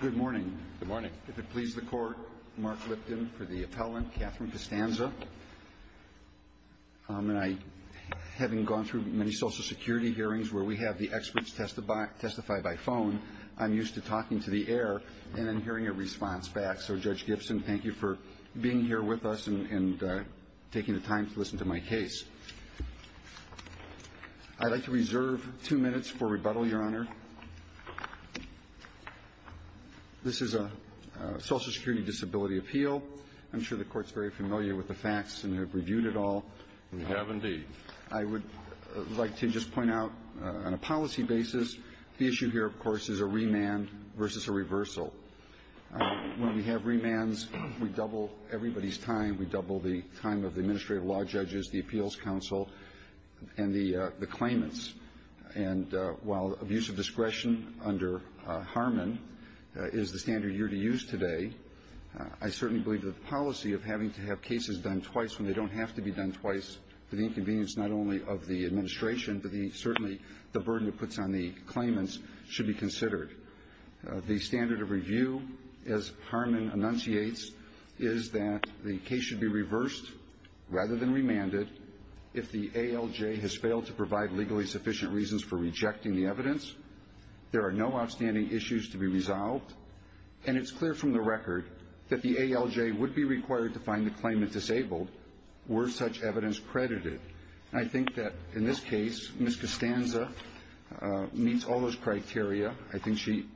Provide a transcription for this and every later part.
Good morning. If it pleases the court, Mark Lipton for the appellant, Katherine Costanza. Having gone through many social security hearings where we have the experts testify by phone, I'm used to talking to the air and then hearing a response back. So, Judge Gibson, thank you for being here with us and taking the time to listen to my case. I'd like to reserve two minutes for rebuttal, Your Honor. This is a social security disability appeal. I'm sure the court's very familiar with the facts and have reviewed it all. We have, indeed. I would like to just point out on a policy basis the issue here, of course, is a remand versus a reversal. When we have remands, we double everybody's time. We double the time of the administrative law judges, the appeals counsel, and the claimants. And while abuse of discretion under Harmon is the standard you're to use today, I certainly believe that the policy of having to have cases done twice when they don't have to be done twice for the inconvenience not only of the administration but certainly the burden it puts on the claimants should be considered. The standard of review, as Harmon enunciates, is that the case should be reversed rather than remanded. If the ALJ has failed to provide legally sufficient reasons for rejecting the evidence, there are no outstanding issues to be resolved. And it's clear from the record that the ALJ would be required to find the claimant disabled were such evidence credited. I think that in this case, Ms. Costanza meets all those criteria. I think she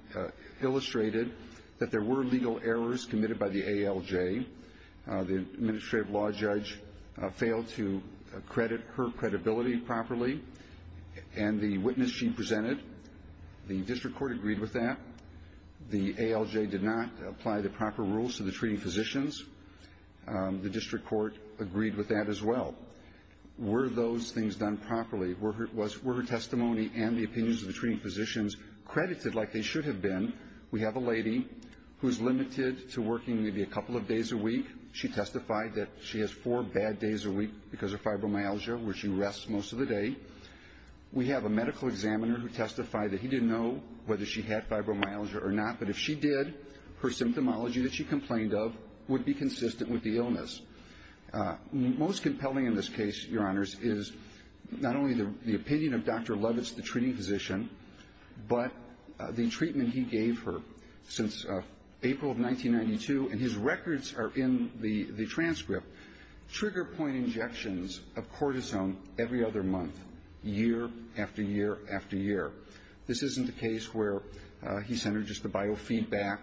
illustrated that there were legal errors committed by the ALJ. The administrative law judge failed to credit her credibility properly. And the witness she presented, the district court agreed with that. The ALJ did not apply the proper rules to the treating physicians. The district court agreed with that as well. Were those things done properly? Were her testimony and the opinions of the treating physicians credited like they should have been? We have a lady who is limited to working maybe a couple of days a week. She testified that she has four bad days a week because of fibromyalgia where she rests most of the day. We have a medical examiner who testified that he didn't know whether she had fibromyalgia or not, but if she did, her symptomology that she complained of would be consistent with the illness. Most compelling in this case, Your Honors, is not only the opinion of Dr. Levitz, the treating physician, but the treatment he gave her since April of 1992. And his records are in the transcript. Trigger point injections of cortisone every other month, year after year after year. This isn't a case where he sent her just the biofeedback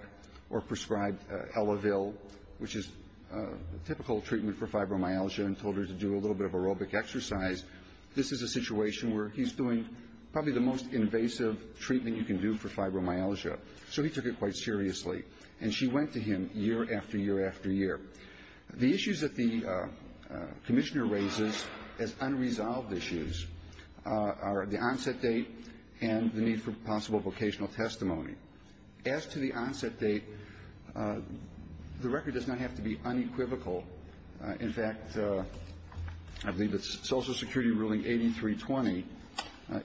or prescribed Elevil, which is a typical treatment for fibromyalgia, and told her to do a little bit of aerobic exercise. This is a situation where he's doing probably the most invasive treatment you can do for fibromyalgia. So he took it quite seriously, and she went to him year after year after year. The issues that the commissioner raises as unresolved issues are the onset date and the need for possible vocational testimony. As to the onset date, the record does not have to be unequivocal. In fact, I believe that Social Security ruling 8320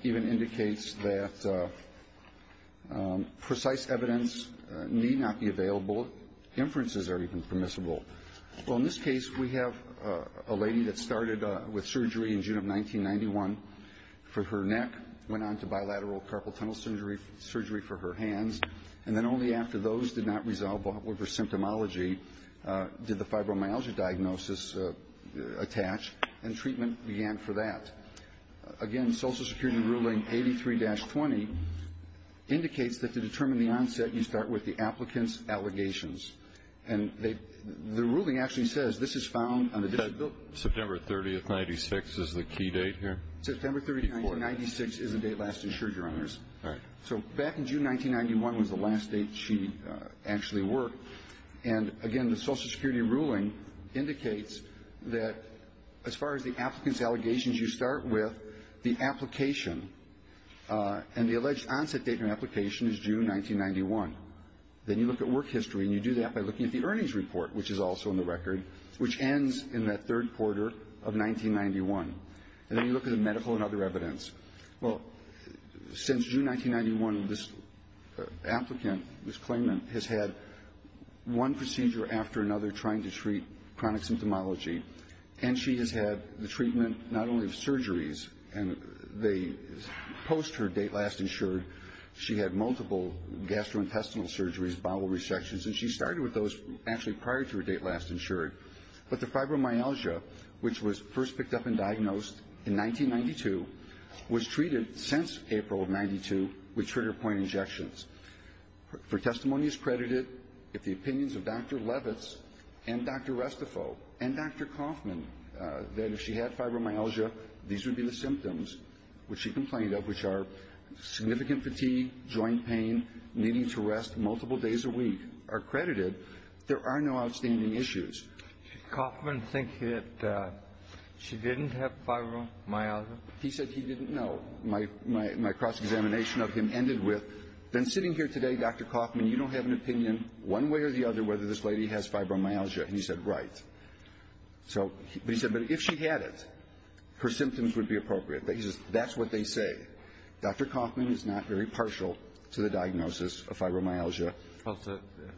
even indicates that precise evidence need not be available. Inferences are even permissible. Well, in this case, we have a lady that started with surgery in June of 1991 for her neck, went on to bilateral carpal tunnel surgery for her hands, and then only after those did not resolve with her symptomology did the fibromyalgia diagnosis attach, and treatment began for that. Again, Social Security ruling 83-20 indicates that to determine the onset, you start with the applicant's allegations, and the ruling actually says this is found on the disability. September 30, 1996 is the key date here? September 30, 1996 is the date last insured, Your Honors. All right. So back in June 1991 was the last date she actually worked, and again the Social Security ruling indicates that as far as the applicant's allegations, you start with the application, and the alleged onset date of application is June 1991. Then you look at work history, and you do that by looking at the earnings report, which is also in the record, which ends in that third quarter of 1991. And then you look at the medical and other evidence. Well, since June 1991, this applicant, this claimant, has had one procedure after another trying to treat chronic symptomology, and she has had the treatment not only of surgeries, and they post her date last insured, she had multiple gastrointestinal surgeries, bowel resections, and she started with those actually prior to her date last insured. But the fibromyalgia, which was first picked up and diagnosed in 1992, was treated since April of 92 with trigger point injections. Her testimony is credited. If the opinions of Dr. Levitz and Dr. Restifo and Dr. Kauffman that if she had fibromyalgia, these would be the symptoms which she complained of, which are significant fatigue, joint pain, needing to rest multiple days a week, are credited. There are no outstanding issues. Kauffman thinks that she didn't have fibromyalgia? He said he didn't know. My cross-examination of him ended with, then sitting here today, Dr. Kauffman, you don't have an opinion one way or the other whether this lady has fibromyalgia, and he said, right. So he said, but if she had it, her symptoms would be appropriate. He says that's what they say. Dr. Kauffman is not very partial to the diagnosis of fibromyalgia. Well,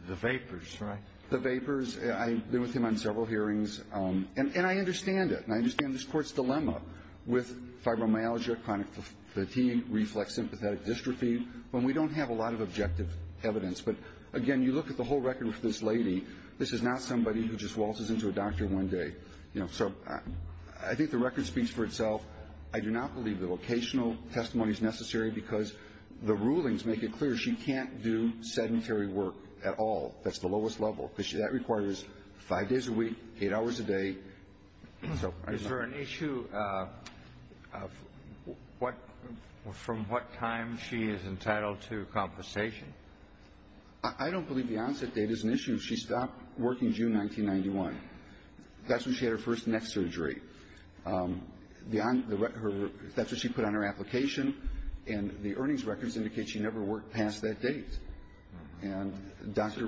the vapors, right? The vapors. I've been with him on several hearings, and I understand it, and I understand this Court's dilemma with fibromyalgia, chronic fatigue, reflex sympathetic dystrophy, when we don't have a lot of objective evidence. But, again, you look at the whole record with this lady, this is not somebody who just waltzes into a doctor one day. So I think the record speaks for itself. I do not believe the vocational testimony is necessary because the rulings make it clear she can't do sedentary work at all. That's the lowest level, because that requires five days a week, eight hours a day. Is there an issue of from what time she is entitled to compensation? I don't believe the onset date is an issue. She stopped working June 1991. That's when she had her first neck surgery. That's what she put on her application, and the earnings records indicate she never worked past that date. And Dr.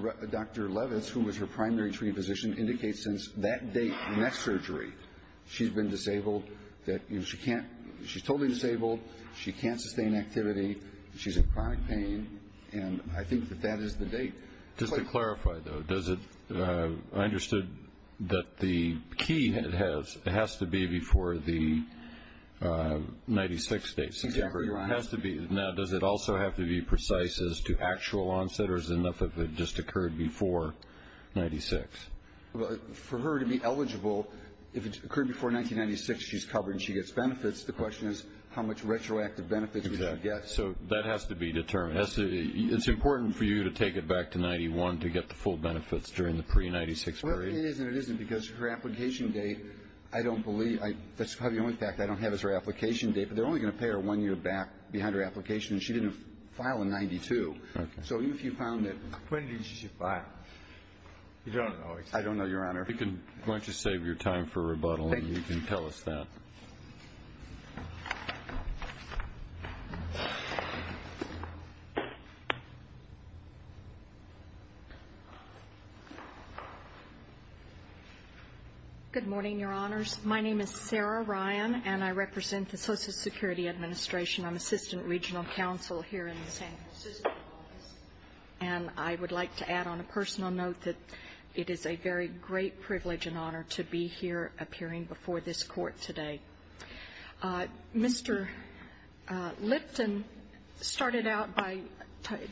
Levitz, who was her primary treating physician, indicates since that date, neck surgery, she's been disabled, she's totally disabled, she can't sustain activity, she's in chronic pain, and I think that that is the date. Just to clarify, though, I understood that the key has to be before the 96 date. Now, does it also have to be precise as to actual onset, or is it enough if it just occurred before 96? For her to be eligible, if it occurred before 1996, she's covered and she gets benefits. The question is how much retroactive benefits she can get. So that has to be determined. It's important for you to take it back to 91 to get the full benefits during the pre-96 period? It is and it isn't, because her application date, I don't believe, that's probably the only fact I don't have is her application date, but they're only going to pay her one year back behind her application, and she didn't file in 92. Okay. So even if you found it. When did she file? I don't know. I don't know, Your Honor. Why don't you save your time for rebuttal and you can tell us that. Thank you. Good morning, Your Honors. My name is Sarah Ryan, and I represent the Social Security Administration. I'm Assistant Regional Counsel here in the San Francisco office, and I would like to add on a personal note that it is a very great privilege and honor to be here appearing before this Court today. Mr. Lipton started out by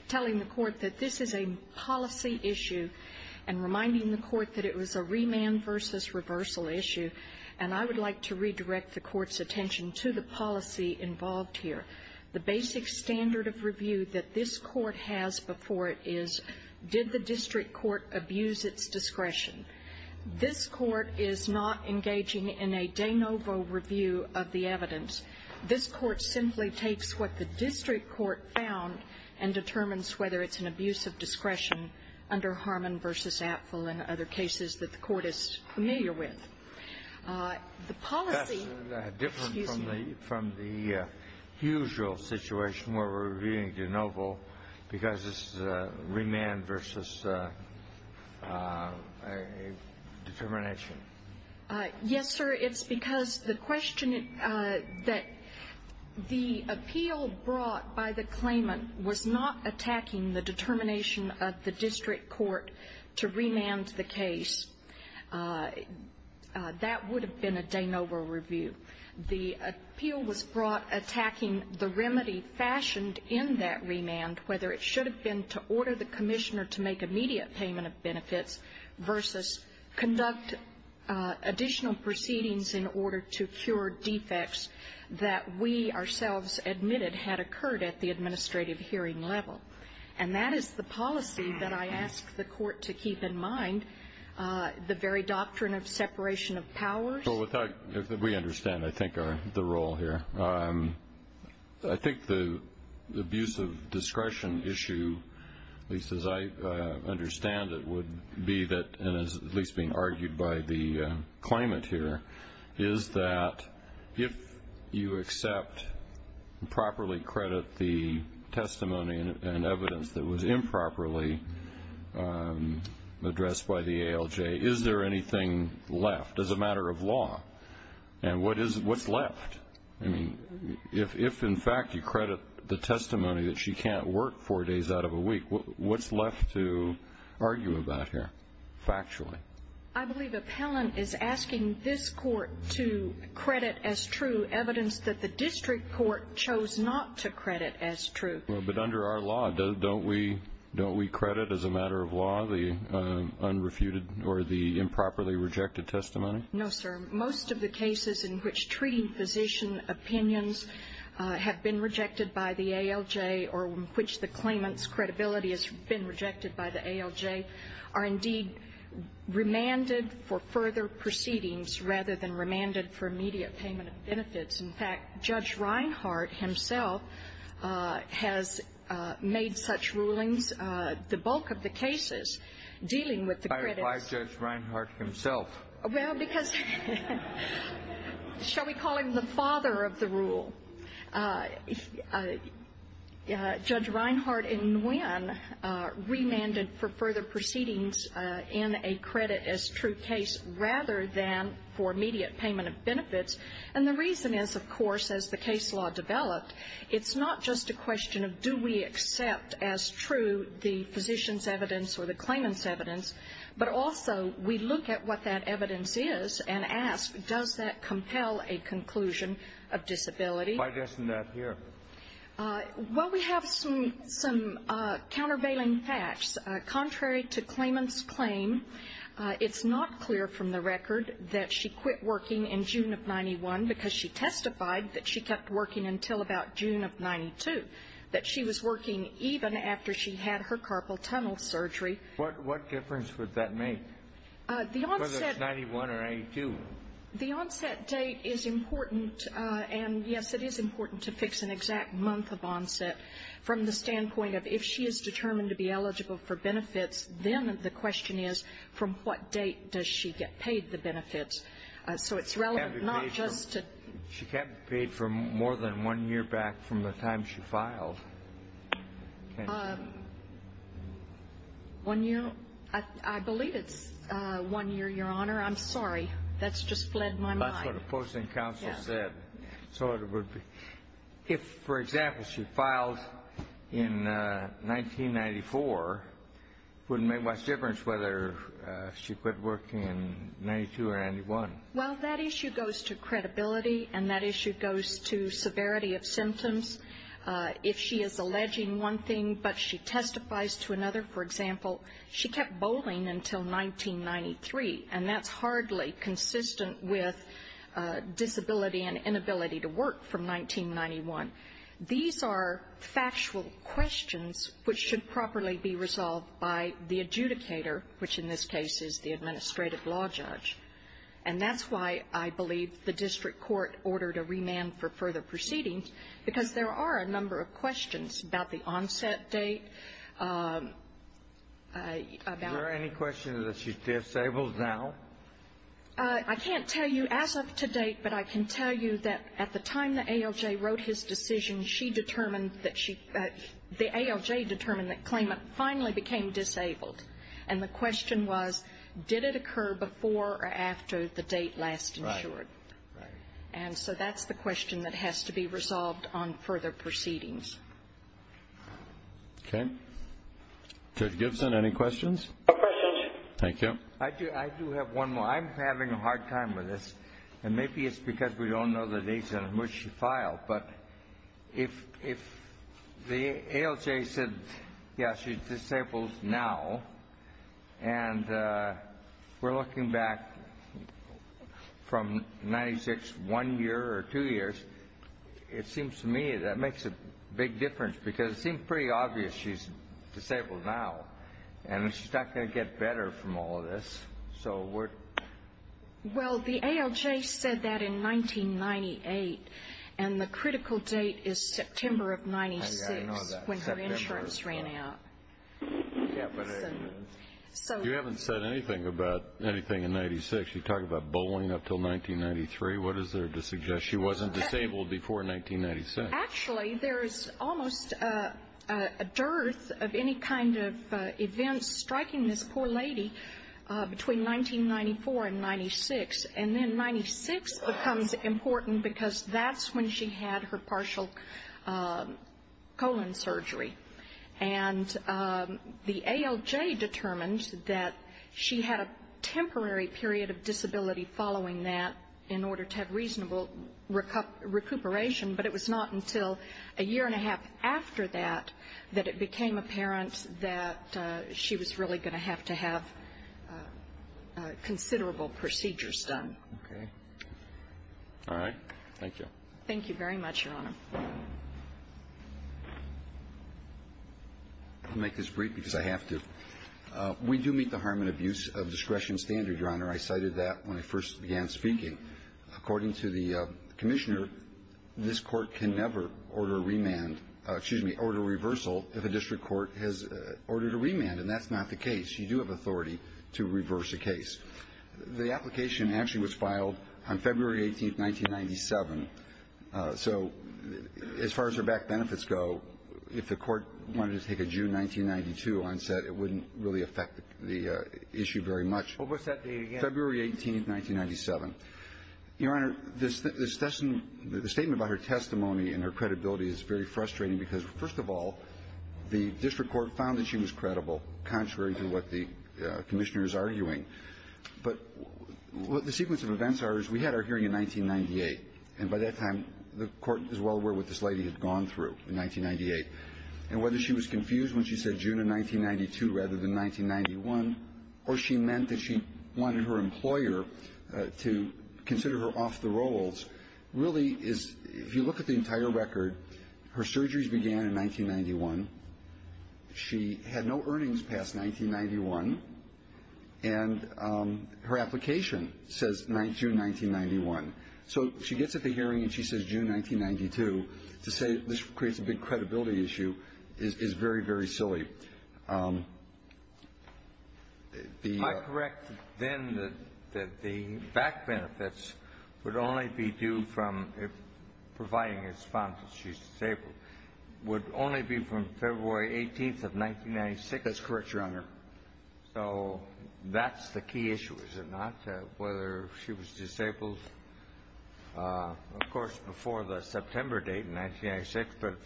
telling the Court that this is a policy issue and reminding the Court that it was a remand versus reversal issue, and I would like to redirect the Court's attention to the policy involved here. The basic standard of review that this Court has before it is did the district court abuse its discretion? This Court is not engaging in a de novo review of the evidence. This Court simply takes what the district court found and determines whether it's an abuse of discretion under Harmon versus Apfel and other cases that the Court is familiar with. The policy ---- That's different from the usual situation where we're reviewing de novo because this is a remand versus determination. Yes, sir. It's because the question that the appeal brought by the claimant was not attacking the determination of the district court to remand the case. That would have been a de novo review. The appeal was brought attacking the remedy fashioned in that remand, whether it should have been to order the commissioner to make immediate payment of benefits versus conduct additional proceedings in order to cure defects that we ourselves admitted had occurred at the administrative hearing level. And that is the policy that I ask the Court to keep in mind, the very doctrine of separation of powers. We understand, I think, the role here. I think the abuse of discretion issue, at least as I understand it, would be that, and is at least being argued by the claimant here, is that if you accept and properly credit the testimony and evidence that was improperly addressed by the ALJ, and what's left? If, in fact, you credit the testimony that she can't work four days out of a week, what's left to argue about here factually? I believe appellant is asking this Court to credit as true evidence that the district court chose not to credit as true. But under our law, don't we credit as a matter of law the unrefuted or the improperly rejected testimony? No, sir. Most of the cases in which treating physician opinions have been rejected by the ALJ or in which the claimant's credibility has been rejected by the ALJ are indeed remanded for further proceedings rather than remanded for immediate payment of benefits. In fact, Judge Reinhart himself has made such rulings, the bulk of the cases dealing with the credits. Why Judge Reinhart himself? Well, because shall we call him the father of the rule? Judge Reinhart in Nguyen remanded for further proceedings in a credit as true case rather than for immediate payment of benefits. And the reason is, of course, as the case law developed, it's not just a question of do we accept as true the physician's evidence or the claimant's evidence, but also we look at what that evidence is and ask does that compel a conclusion of disability? Why doesn't that appear? Well, we have some countervailing facts. Contrary to claimant's claim, it's not clear from the record that she quit working in June of 91 because she testified that she kept working until about June of 92, that she was working even after she had her carpal tunnel surgery. What difference would that make, whether it's 91 or 82? The onset date is important. And, yes, it is important to fix an exact month of onset from the standpoint of if she is determined to be eligible for benefits, then the question is from what date does she get paid the benefits. So it's relevant not just to the date. I believe for more than one year back from the time she filed. One year? I believe it's one year, Your Honor. I'm sorry. That's just fled my mind. That's what a posting counsel said. So it would be. If, for example, she filed in 1994, it wouldn't make much difference whether she quit working in 92 or 91. Well, that issue goes to credibility, and that issue goes to severity of symptoms. If she is alleging one thing but she testifies to another, for example, she kept bowling until 1993, and that's hardly consistent with disability and inability to work from 1991. These are factual questions which should properly be resolved by the adjudicator, which in this case is the administrative law judge. And that's why I believe the district court ordered a remand for further proceedings, because there are a number of questions about the onset date, about... Is there any question that she's disabled now? I can't tell you as of to date, but I can tell you that at the time the ALJ wrote his decision, she determined that she, the ALJ determined that Clayman finally became disabled. And the question was, did it occur before or after the date last insured? Right. And so that's the question that has to be resolved on further proceedings. Okay. Judge Gibson, any questions? No questions. Thank you. I do have one more. I'm having a hard time with this, and maybe it's because we don't know the date on which she filed. But if the ALJ said, yeah, she's disabled now, and we're looking back from 1996, one year or two years, it seems to me that makes a big difference, because it seems pretty obvious she's disabled now. And she's not going to get better from all of this. Well, the ALJ said that in 1998, and the critical date is September of 96 when her insurance ran out. Yeah, but you haven't said anything about anything in 96. You talk about bowling up until 1993. What is there to suggest she wasn't disabled before 1996? Actually, there is almost a dearth of any kind of events striking this poor lady between 1994 and 96, and then 96 becomes important because that's when she had her partial colon surgery. And the ALJ determined that she had a temporary period of disability following that in order to have reasonable recuperation, but it was not until a year and a half after that that it became apparent that she was really going to have to have considerable procedures done. Okay. All right. Thank you. Thank you very much, Your Honor. I'll make this brief because I have to. We do meet the harm and abuse of discretion standard, Your Honor. I cited that when I first began speaking. According to the Commissioner, this Court can never order remand or, excuse me, order reversal if a district court has ordered a remand. And that's not the case. You do have authority to reverse a case. The application actually was filed on February 18th, 1997. So as far as her back benefits go, if the Court wanted to take a June 1992 onset, it wouldn't really affect the issue very much. Well, what's that date again? February 18th, 1997. Your Honor, the statement about her testimony and her credibility is very frustrating because, first of all, the district court found that she was credible, contrary to what the Commissioner is arguing. But what the sequence of events are is we had our hearing in 1998, and by that time the Court was well aware what this lady had gone through in 1998. And whether she was confused when she said June of 1992 rather than 1991 or she meant that she wanted her employer to consider her off the rolls really is, if you look at the entire record, her surgeries began in 1991. She had no earnings past 1991. And her application says June 1991. So she gets at the hearing and she says June 1992. To say this creates a big credibility issue is very, very silly. Am I correct then that the back benefits would only be due from providing a response if she's disabled would only be from February 18th of 1996? That's correct, Your Honor. So that's the key issue, is it not, whether she was disabled, of course, before the September date in 1996. But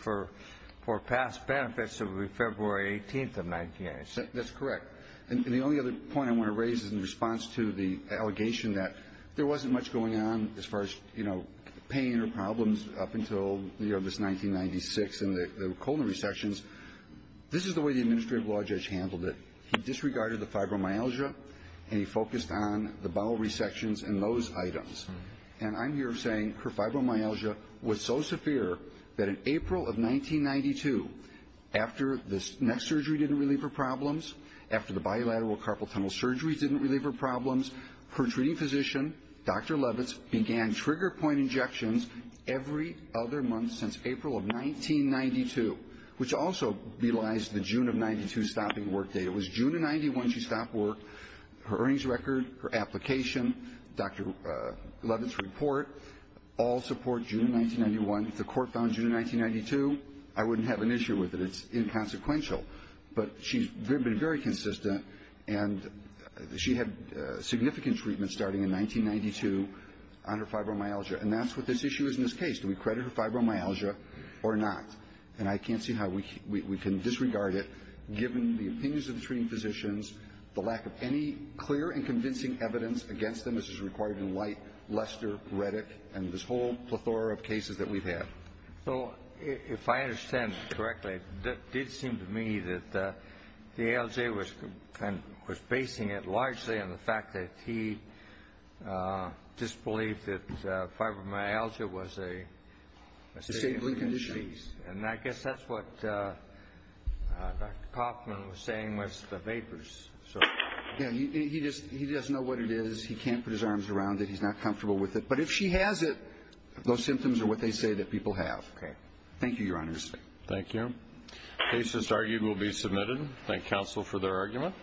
for past benefits, it would be February 18th of 1996. That's correct. And the only other point I want to raise is in response to the allegation that there wasn't much going on as far as pain or problems up until this 1996 and the colon resections. This is the way the administrative law judge handled it. He disregarded the fibromyalgia and he focused on the bowel resections and those items. And I'm here saying her fibromyalgia was so severe that in April of 1992, after the neck surgery didn't relieve her problems, after the bilateral carpal tunnel surgery didn't relieve her problems, her treating physician, Dr. Levitz, began trigger point injections every other month since April of 1992, which also belies the June of 92 stopping work date. It was June of 91 she stopped work. Her earnings record, her application, Dr. Levitz's report, all support June of 1991. If the court found June of 1992, I wouldn't have an issue with it. It's inconsequential. But she's been very consistent, and she had significant treatment starting in 1992 on her fibromyalgia. And that's what this issue is in this case. Do we credit her fibromyalgia or not? And I can't see how we can disregard it, given the opinions of the treating physicians, the lack of any clear and convincing evidence against them, as is required in White, Lester, Reddick, and this whole plethora of cases that we've had. So if I understand correctly, it did seem to me that the ALJ was basing it largely on the fact that he disbelieved that fibromyalgia was a And I guess that's what Dr. Kaufman was saying with the vapors. He doesn't know what it is. He can't put his arms around it. He's not comfortable with it. But if she has it, those symptoms are what they say that people have. Okay. Thank you, Your Honors. Thank you. Cases argued will be submitted. Thank counsel for their argument.